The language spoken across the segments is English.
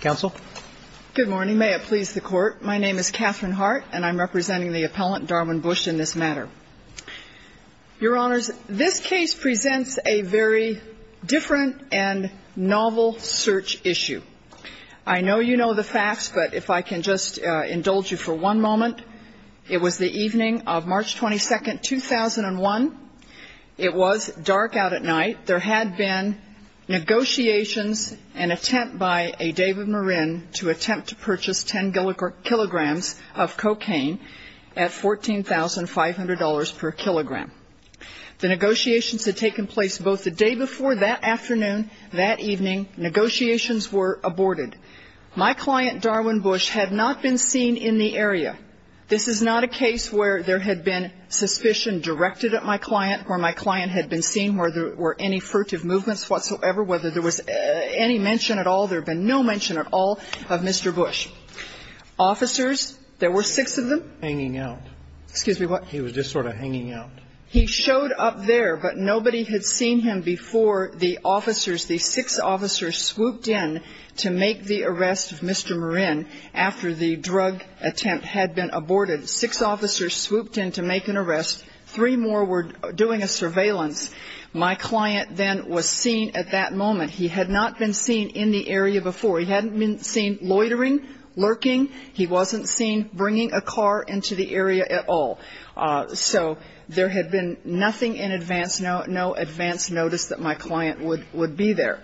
counsel. Good morning. May it please the court. My name is Catherine Hart and I'm representing the appellant Darwin Bush in this matter. Your honors, this case presents a very different and novel search issue. I know you know the facts, but if I can just indulge you for one moment, it was the evening of March 22, 2001. It was dark out at night. There had been negotiations and attempt by a David Morin to attempt to purchase 10 kilograms of cocaine at $14,500 per kilogram. The negotiations had taken place both the day before that afternoon, that evening. Negotiations were taking place. There was a case where there had been suspicion directed at my client, where my client had been seen, where there were any furtive movements whatsoever, whether there was any mention at all. There had been no mention at all of Mr. Bush. Officers, there were six of them. Hanging out. Excuse me, what? He was just sort of hanging out. He showed up there, but nobody had seen him before the officers, the six officers swooped in to make an arrest. Three more were doing a surveillance. My client then was seen at that moment. He had not been seen in the area before. He hadn't been seen loitering, lurking. He wasn't seen bringing a car into the area at all. So there had been nothing in advance, no advance notice that my client had been seen at that moment.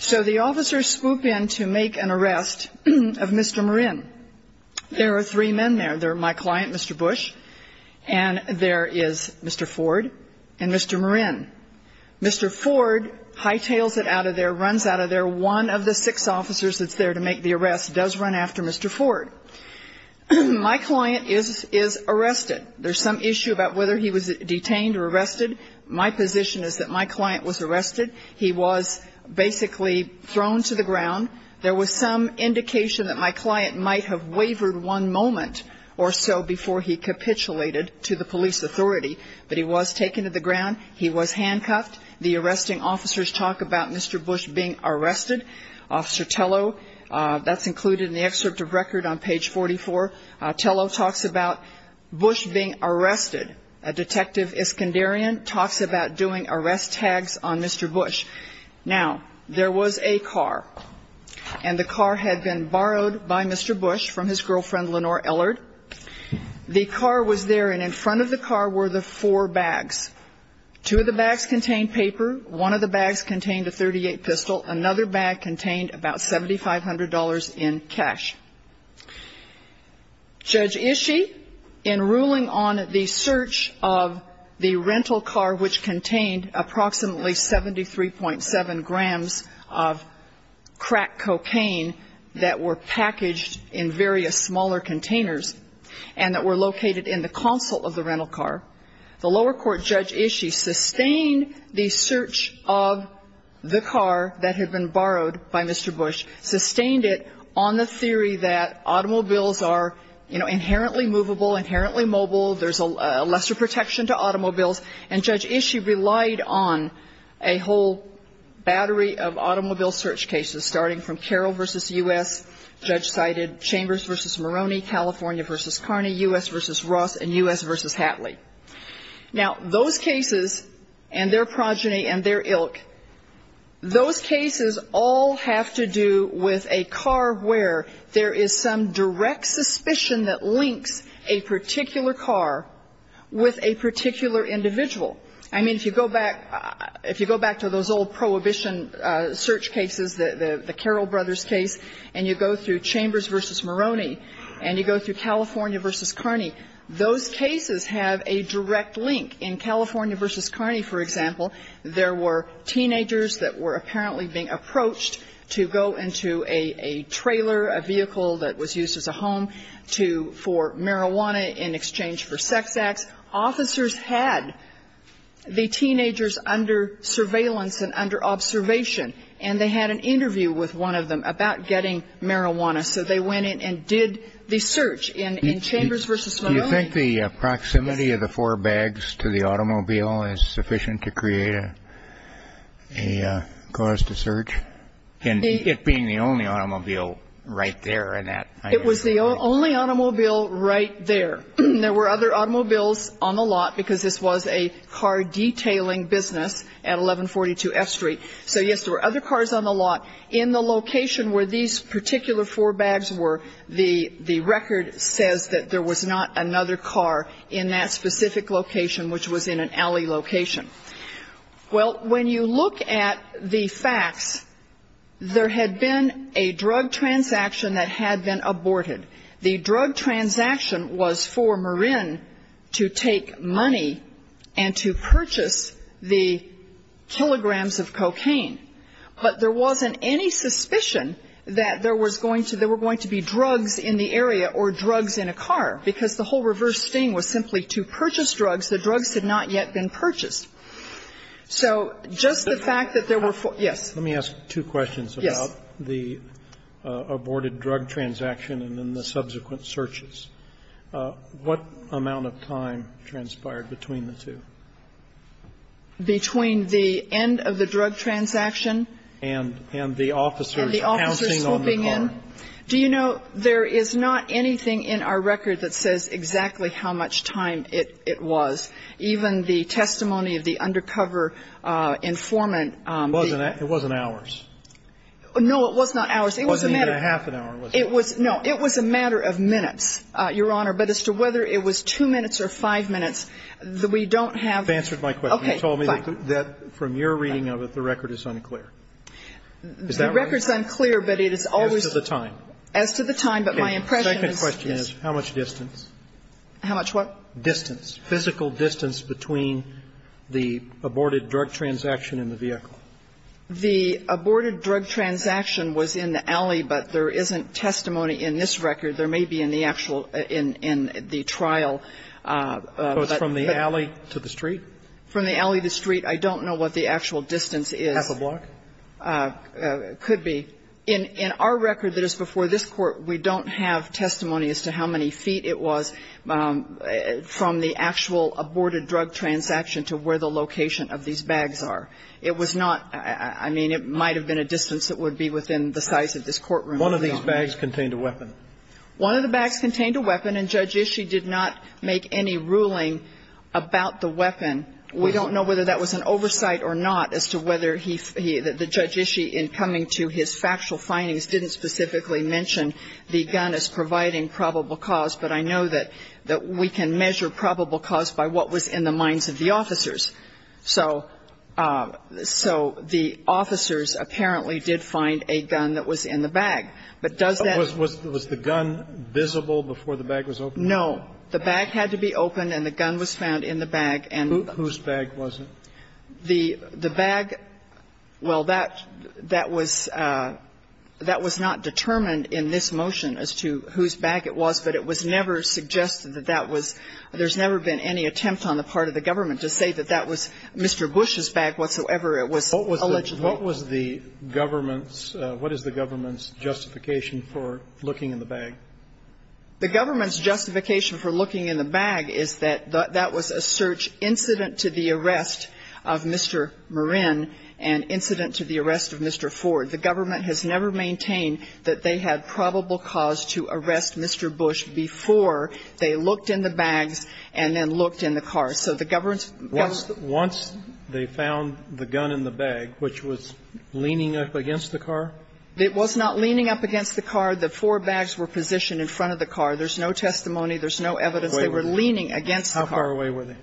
So the officers swooped in to make an arrest of Mr. Morin. There are three men there. There are my client, Mr. Bush, and there is Mr. Ford and Mr. Morin. Mr. Ford hightails it out of there, runs out of there. One of the six officers that's there to make the arrest does run after Mr. Ford. My client is arrested. There's some issue about whether he was detained or arrested. My position is that my client was arrested. He was basically thrown to the ground. There was some indication that my client might have wavered one moment or so before he capitulated to the police authority, but he was taken to the Tello talks about Bush being arrested. A detective Iskanderian talks about doing arrest tags on Mr. Bush. Now, there was a car, and the car had been borrowed by Mr. Bush from his girlfriend, Lenore Ellard. The car was there, and in front of the car were the four bags. Two of the bags contained paper. One of the bags contained a .38 pistol. Another bag contained about $7,500 in cash. Judge Ishii, in ruling on the search of the rental car, which contained approximately 73.7 grams of crack cocaine that were packaged in various smaller containers and that were located in the console of the rental car, the lower court, Judge Ishii, sustained the search of the car that had been borrowed by Mr. Bush, sustained it on the theory that automobiles are, you know, inherently movable, inherently mobile. There's a lesser protection to automobiles. And Judge Ishii relied on a whole battery of automobile search cases, starting from Carroll v. U.S. Judge cited Chambers v. Moroney, California v. Carney, U.S. v. Ross, and U.S. v. Hatley. Now, those cases and their progeny and their ilk, those cases all have to do with a car where there is some direct suspicion that links a particular car with a particular individual. I mean, if you go back to those old prohibition search cases, the Carroll brothers case, and you go through Chambers v. Moroney, and you go through California v. Carney, those cases have a direct link. In California v. Carney, for example, there were teenagers that were apparently being approached to go into a trailer, a vehicle that was used as a home for marijuana in exchange for sex acts. Officers had the teenagers under surveillance and under observation, and they had an interview with one of them about getting marijuana. So they went in and did the search. And in Chambers v. Moroney, yes. Kennedy. Do you think the proximity of the four bags to the automobile is sufficient to create a cause to search? And it being the only automobile right there at that time. It was the only automobile right there. There were other automobiles on the lot, because this was a car detailing business at 1142 F Street. So, yes, there were other cars on the lot. In the location where these particular four bags were, the record says that there was not another car in that specific location, which was in an alley location. Well, when you look at the facts, there had been a drug transaction that had been aborted. The drug transaction was for Marin to take money and to purchase the kilograms of cocaine. But there wasn't any suspicion that there was going to be drugs in the area or drugs in a car, because the whole reverse sting was simply to purchase drugs. The drugs had not yet been purchased. So just the fact that there were four. Let me ask two questions about the aborted drug transaction and then the subsequent searches. What amount of time transpired between the two? Between the end of the drug transaction and the officers pouncing on the car? Do you know, there is not anything in our record that says exactly how much time it was. Even the testimony of the undercover informant. It wasn't hours. No, it was not hours. It was a matter of minutes, Your Honor. But as to whether it was two minutes or five minutes, we don't have. You've answered my question. You told me that from your reading of it, the record is unclear. Is that right? The record is unclear, but it is always. As to the time. As to the time, but my impression is. The second question is how much distance. How much what? Distance. Physical distance between the aborted drug transaction and the vehicle. The aborted drug transaction was in the alley, but there isn't testimony in this record. There may be in the actual, in the trial. So it's from the alley to the street? From the alley to the street. I don't know what the actual distance is. Half a block? Could be. In our record that is before this Court, we don't have testimony as to how many feet it was from the actual aborted drug transaction to where the location of these bags are. It was not, I mean, it might have been a distance that would be within the size of this courtroom. One of these bags contained a weapon? One of the bags contained a weapon, and Judge Ishii did not make any ruling about the weapon. We don't know whether that was an oversight or not as to whether he, the Judge Ishii in coming to his factual findings didn't specifically mention the gun as providing probable cause, but I know that we can measure probable cause by what was in the minds of the officers. So the officers apparently did find a gun that was in the bag. But does that? Was the gun visible before the bag was opened? No. The bag had to be opened and the gun was found in the bag. Whose bag was it? The bag, well, that was not determined in this motion as to whose bag it was, but it was never suggested that that was, there's never been any attempt on the part of the government to say that that was Mr. Bush's bag whatsoever. It was illegitimate. What was the government's, what is the government's justification for looking in the bag? The government's justification for looking in the bag is that that was a search incident to the arrest of Mr. Marin and incident to the arrest of Mr. Ford. The government has never maintained that they had probable cause to arrest Mr. Bush before they looked in the bags and then looked in the car. So the government's justification. Once they found the gun in the bag, which was leaning up against the car? It was not leaning up against the car. The four bags were positioned in front of the car. There's no testimony. There's no evidence. They were leaning against the car. How far away were they?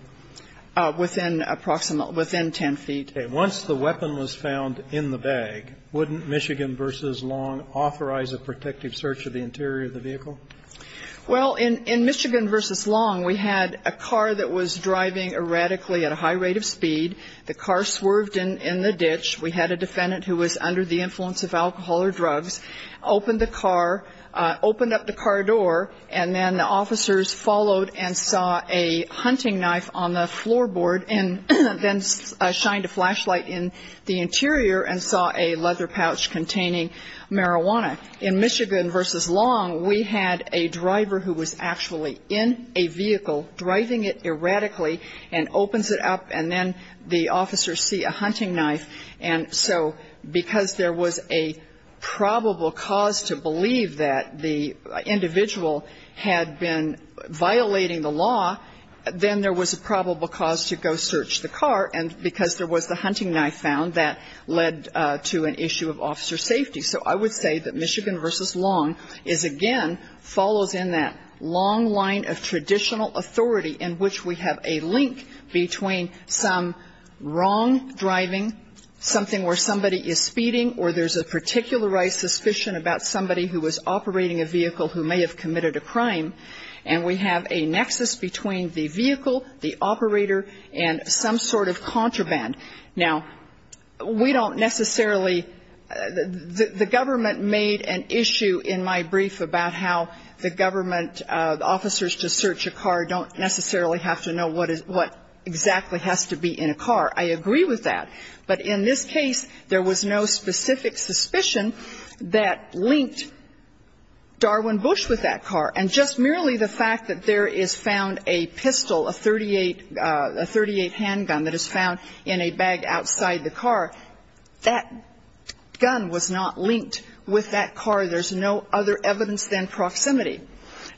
Within approximate, within 10 feet. Once the weapon was found in the bag, wouldn't Michigan v. Long authorize a protective search of the interior of the vehicle? Well, in Michigan v. Long, we had a car that was driving erratically at a high rate of speed. The car swerved in the ditch. We had a defendant who was under the influence of alcohol or drugs, opened the car, opened up the car door, and then the officers followed and saw a hunting knife on the interior and saw a leather pouch containing marijuana. In Michigan v. Long, we had a driver who was actually in a vehicle driving it erratically and opens it up, and then the officers see a hunting knife. And so because there was a probable cause to believe that the individual had been violating the law, then there was a probable cause to go search the car, and because there was the hunting knife found, that led to an issue of officer safety. So I would say that Michigan v. Long is, again, follows in that long line of traditional authority in which we have a link between some wrong driving, something where somebody is speeding or there's a particularized suspicion about somebody who was operating a vehicle who may have committed a crime, and we have a nexus between the vehicle, the operator, and some sort of contraband. Now, we don't necessarily – the government made an issue in my brief about how the government officers to search a car don't necessarily have to know what exactly has to be in a car. I agree with that. But in this case, there was no specific suspicion that linked Darwin Bush with that gun. There's no other evidence than proximity.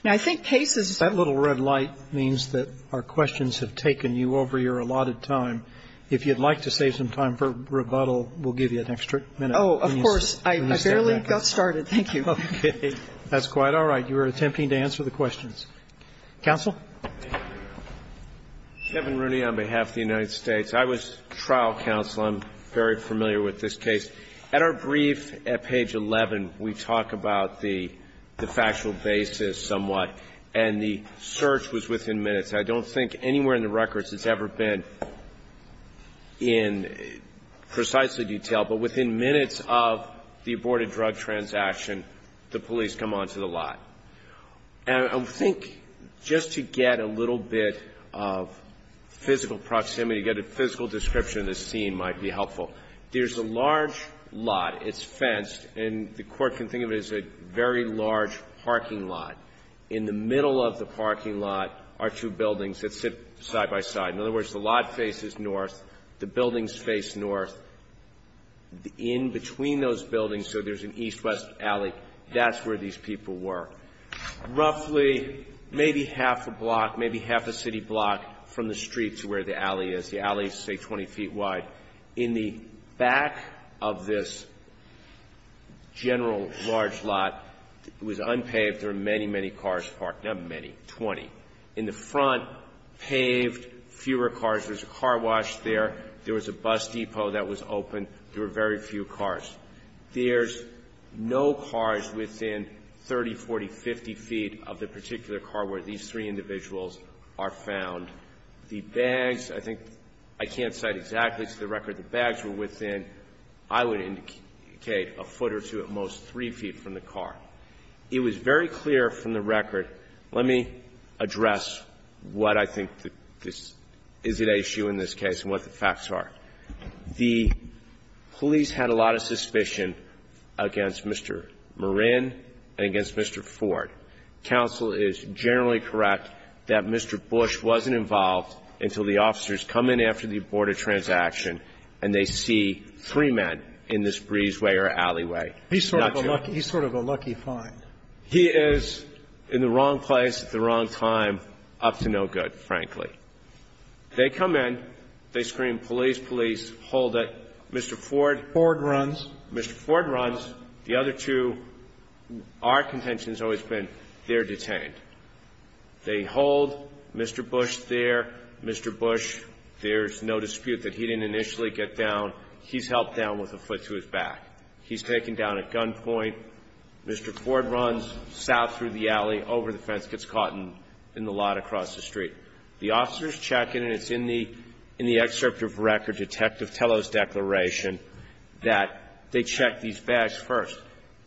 Now, I think cases – That little red light means that our questions have taken you over your allotted time. If you'd like to save some time for rebuttal, we'll give you an extra minute. Oh, of course. I barely got started. Thank you. Okay. That's quite all right. You were attempting to answer the questions. Counsel? Kevin Rooney on behalf of the United States. I was trial counsel. I'm very familiar with this case. At our brief at page 11, we talk about the factual basis somewhat, and the search was within minutes. I don't think anywhere in the records it's ever been in precisely detail, but within minutes of the aborted drug transaction, the police come onto the lot. And I think just to get a little bit of physical proximity, get a physical description of the scene might be helpful. There's a large lot. It's fenced, and the Court can think of it as a very large parking lot. In the middle of the parking lot are two buildings that sit side by side. In other words, the lot faces north, the buildings face north. In between those buildings, so there's an east-west alley, that's where these people were, roughly maybe half a block, maybe half a city block from the street to where the alley is. The alley is, say, 20 feet wide. In the back of this general large lot, it was unpaved. There were many, many cars parked. Not many, 20. In the front, paved, fewer cars. There's a car wash there. There was a bus depot that was open. There were very few cars. There's no cars within 30, 40, 50 feet of the particular car where these three individuals are found. The bags, I think, I can't cite exactly to the record. The bags were within, I would indicate, a foot or two at most, three feet from the car. It was very clear from the record. Let me address what I think is at issue in this case and what the facts are. The police had a lot of suspicion against Mr. Marin and against Mr. Ford. Counsel is generally correct that Mr. Bush wasn't involved until the officers come in after the aborted transaction and they see three men in this breezeway or alleyway. He's sort of a lucky find. He is in the wrong place at the wrong time, up to no good, frankly. They come in. They scream, police, police. Hold it. Mr. Ford. Ford runs. Mr. Ford runs. The other two, our contention has always been they're detained. They hold Mr. Bush there. Mr. Bush, there's no dispute that he didn't initially get down. He's helped down with a foot to his back. He's taken down at gunpoint. Mr. Ford runs south through the alley, over the fence, gets caught in the lot across the street. The officers check in and it's in the excerpt of record, Detective Tello's declaration, that they check these bags first.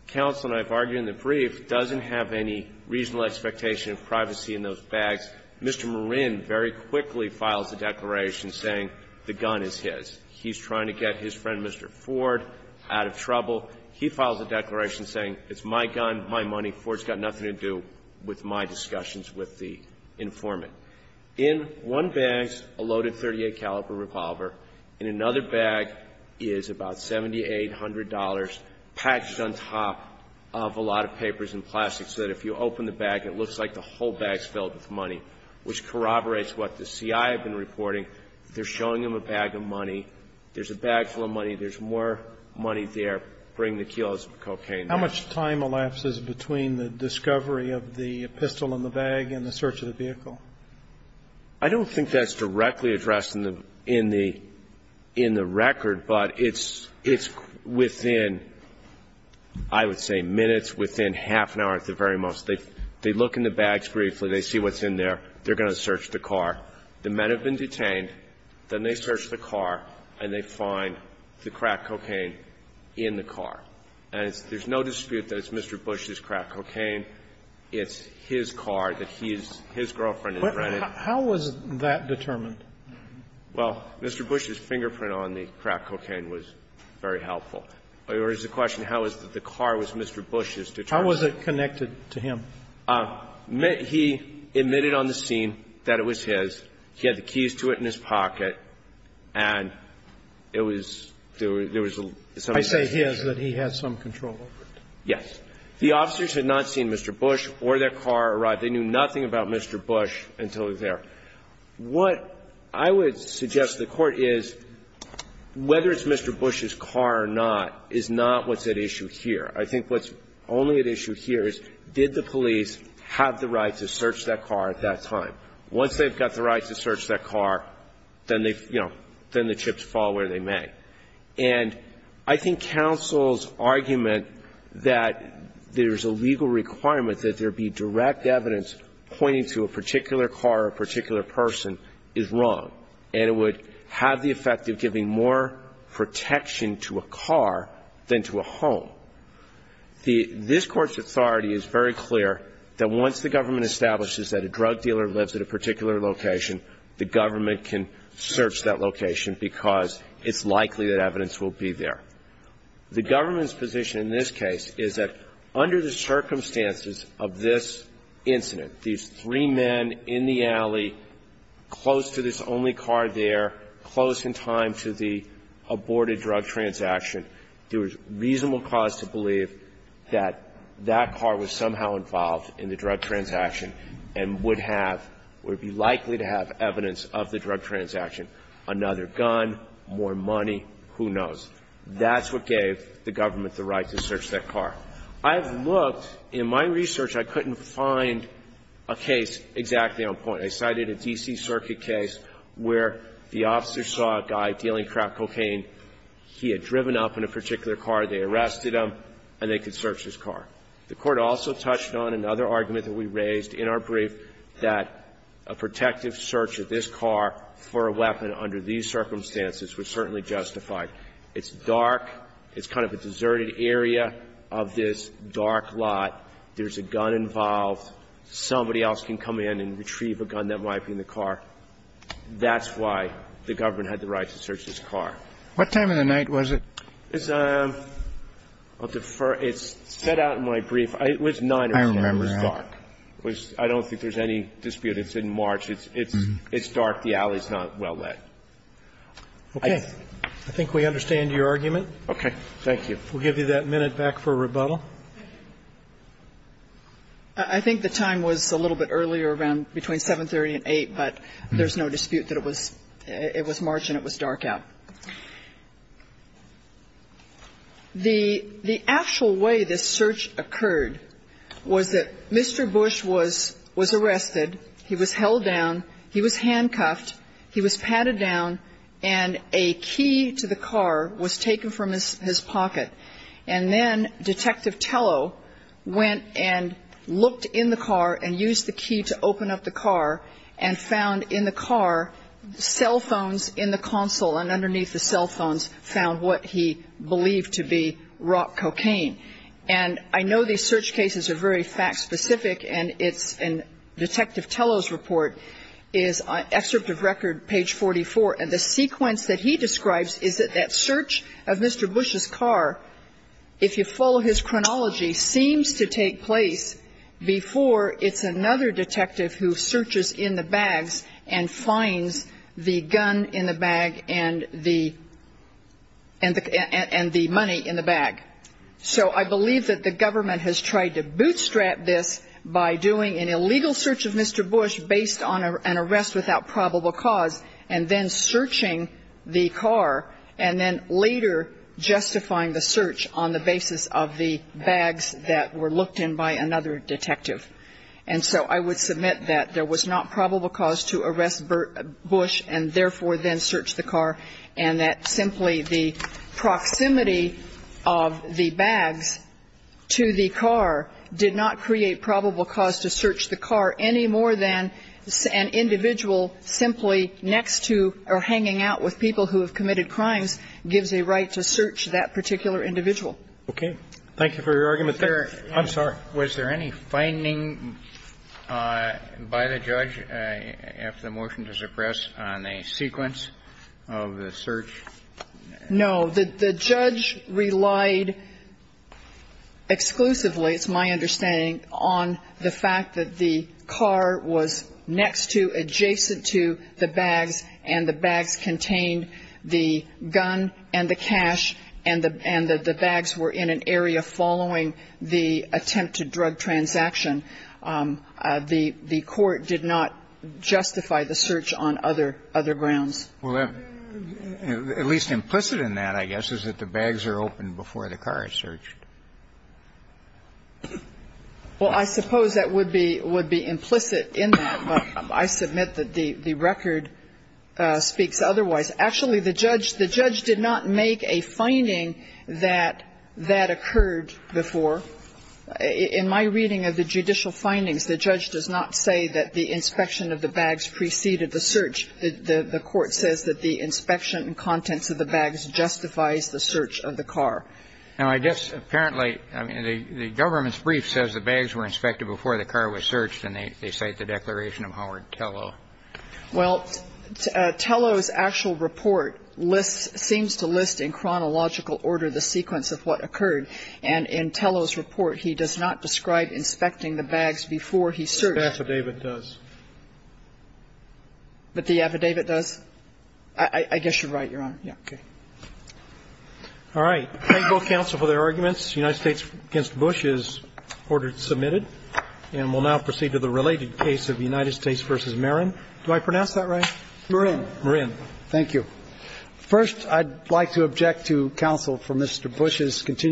Counsel, and I've argued in the brief, doesn't have any reasonable expectation of privacy in those bags. Mr. Marin very quickly files a declaration saying the gun is his. He's trying to get his friend, Mr. Ford, out of trouble. He files a declaration saying it's my gun, my money. Ford's got nothing to do with my discussions with the informant. In one bag is a loaded .38 caliber revolver. In another bag is about $7,800 patched on top of a lot of papers and plastic so that if you open the bag, it looks like the whole bag is filled with money, which corroborates what the CI have been reporting. They're showing him a bag of money. There's a bag full of money. There's more money there. Bring the kilos of cocaine down. How much time elapses between the discovery of the pistol in the bag and the search of the vehicle? I don't think that's directly addressed in the record, but it's within, I would say, minutes, within half an hour at the very most. They look in the bags briefly. They see what's in there. They're going to search the car. The men have been detained. Then they search the car and they find the cracked cocaine in the car. And there's no dispute that it's Mr. Bush's cracked cocaine. It's his car that he's his girlfriend has rented. How was that determined? Well, Mr. Bush's fingerprint on the cracked cocaine was very helpful. There was a question how was the car was Mr. Bush's determined. How was it connected to him? He admitted on the scene that it was his. He had the keys to it in his pocket. And it was, there was some association. I say his, that he had some control over it. Yes. The officers had not seen Mr. Bush or their car arrive. They knew nothing about Mr. Bush until they were there. What I would suggest to the Court is whether it's Mr. Bush's car or not is not what's at issue here. I think what's only at issue here is did the police have the right to search that car at that time. Once they've got the right to search that car, then they, you know, then the chips fall where they may. And I think counsel's argument that there's a legal requirement that there be direct evidence pointing to a particular car or a particular person is wrong. And it would have the effect of giving more protection to a car than to a home. The, this Court's authority is very clear that once the government establishes that a drug dealer lives at a particular location, the government can search that The government's position in this case is that under the circumstances of this incident, these three men in the alley close to this only car there, close in time to the aborted drug transaction, there was reasonable cause to believe that that car was somehow involved in the drug transaction and would have, would be likely to have evidence of the drug transaction. Another gun, more money, who knows. That's what gave the government the right to search that car. I have looked. In my research, I couldn't find a case exactly on point. I cited a D.C. Circuit case where the officer saw a guy dealing crack cocaine. He had driven up in a particular car. They arrested him and they could search his car. The Court also touched on another argument that we raised in our brief that a protective search of this car for a weapon under these circumstances was certainly justified. It's dark. It's kind of a deserted area of this dark lot. There's a gun involved. Somebody else can come in and retrieve a gun that might be in the car. That's why the government had the right to search this car. What time of the night was it? It's a deferred – it's set out in my brief. It was 9 o'clock. I remember that. I don't think there's any dispute. It's in March. It's dark. The alley is not well lit. Okay. I think we understand your argument. Okay. Thank you. We'll give you that minute back for rebuttal. I think the time was a little bit earlier around between 7.30 and 8, but there's no dispute that it was March and it was dark out. The actual way this search occurred was that Mr. Bush was arrested. He was held down. He was handcuffed. He was patted down, and a key to the car was taken from his pocket. And then Detective Tello went and looked in the car and used the key to open up the car and found in the car cell phones in the console, and underneath the cell phones found what he believed to be rock cocaine. And I know these search cases are very fact specific, and Detective Tello's report is on excerpt of record page 44. And the sequence that he describes is that that search of Mr. Bush's car, if you follow his chronology, seems to take place before it's another detective who searches in the bags and finds the gun in the bag and the money in the bag. So I believe that the government has tried to bootstrap this by doing an illegal search of Mr. Bush based on an arrest without probable cause and then searching the car and then later justifying the search on the basis of the bags that were looked in by another detective. And so I would submit that there was not probable cause to arrest Bush and therefore then search the car, and that simply the proximity of the bags to the car did not create probable cause to search the car any more than an individual simply next to or hanging out with people who have committed crimes gives a right to search that particular individual. Okay. Thank you for your argument there. I'm sorry. Was there any finding by the judge after the motion to suppress on a sequence of the search? No. The judge relied exclusively, it's my understanding, on the fact that the car was next to, adjacent to the bags, and the bags contained the gun and the cash and the bags were in an area following the attempted drug transaction. The court did not justify the search on other grounds. Well, at least implicit in that, I guess, is that the bags are open before the car is searched. Well, I suppose that would be implicit in that, but I submit that the record speaks otherwise. Actually, the judge did not make a finding that that occurred before. In my reading of the judicial findings, the judge does not say that the inspection of the bags preceded the search. The court says that the inspection contents of the bags justifies the search of the car. Now, I guess apparently, I mean, the government's brief says the bags were inspected before the car was searched, and they cite the declaration of Howard Tello. Well, Tello's actual report lists, seems to list in chronological order the sequence of what occurred, and in Tello's report he does not describe inspecting the bags before he searched. But the affidavit does. But the affidavit does? I guess you're right, Your Honor. Yeah. Okay. All right. Thank both counsel for their arguments. United States v. Bush is ordered to submit it, and we'll now proceed to the related case of United States v. Marin. Do I pronounce that right? Marin. Marin. Thank you. First, I'd like to object to counsel for Mr. Bush's continued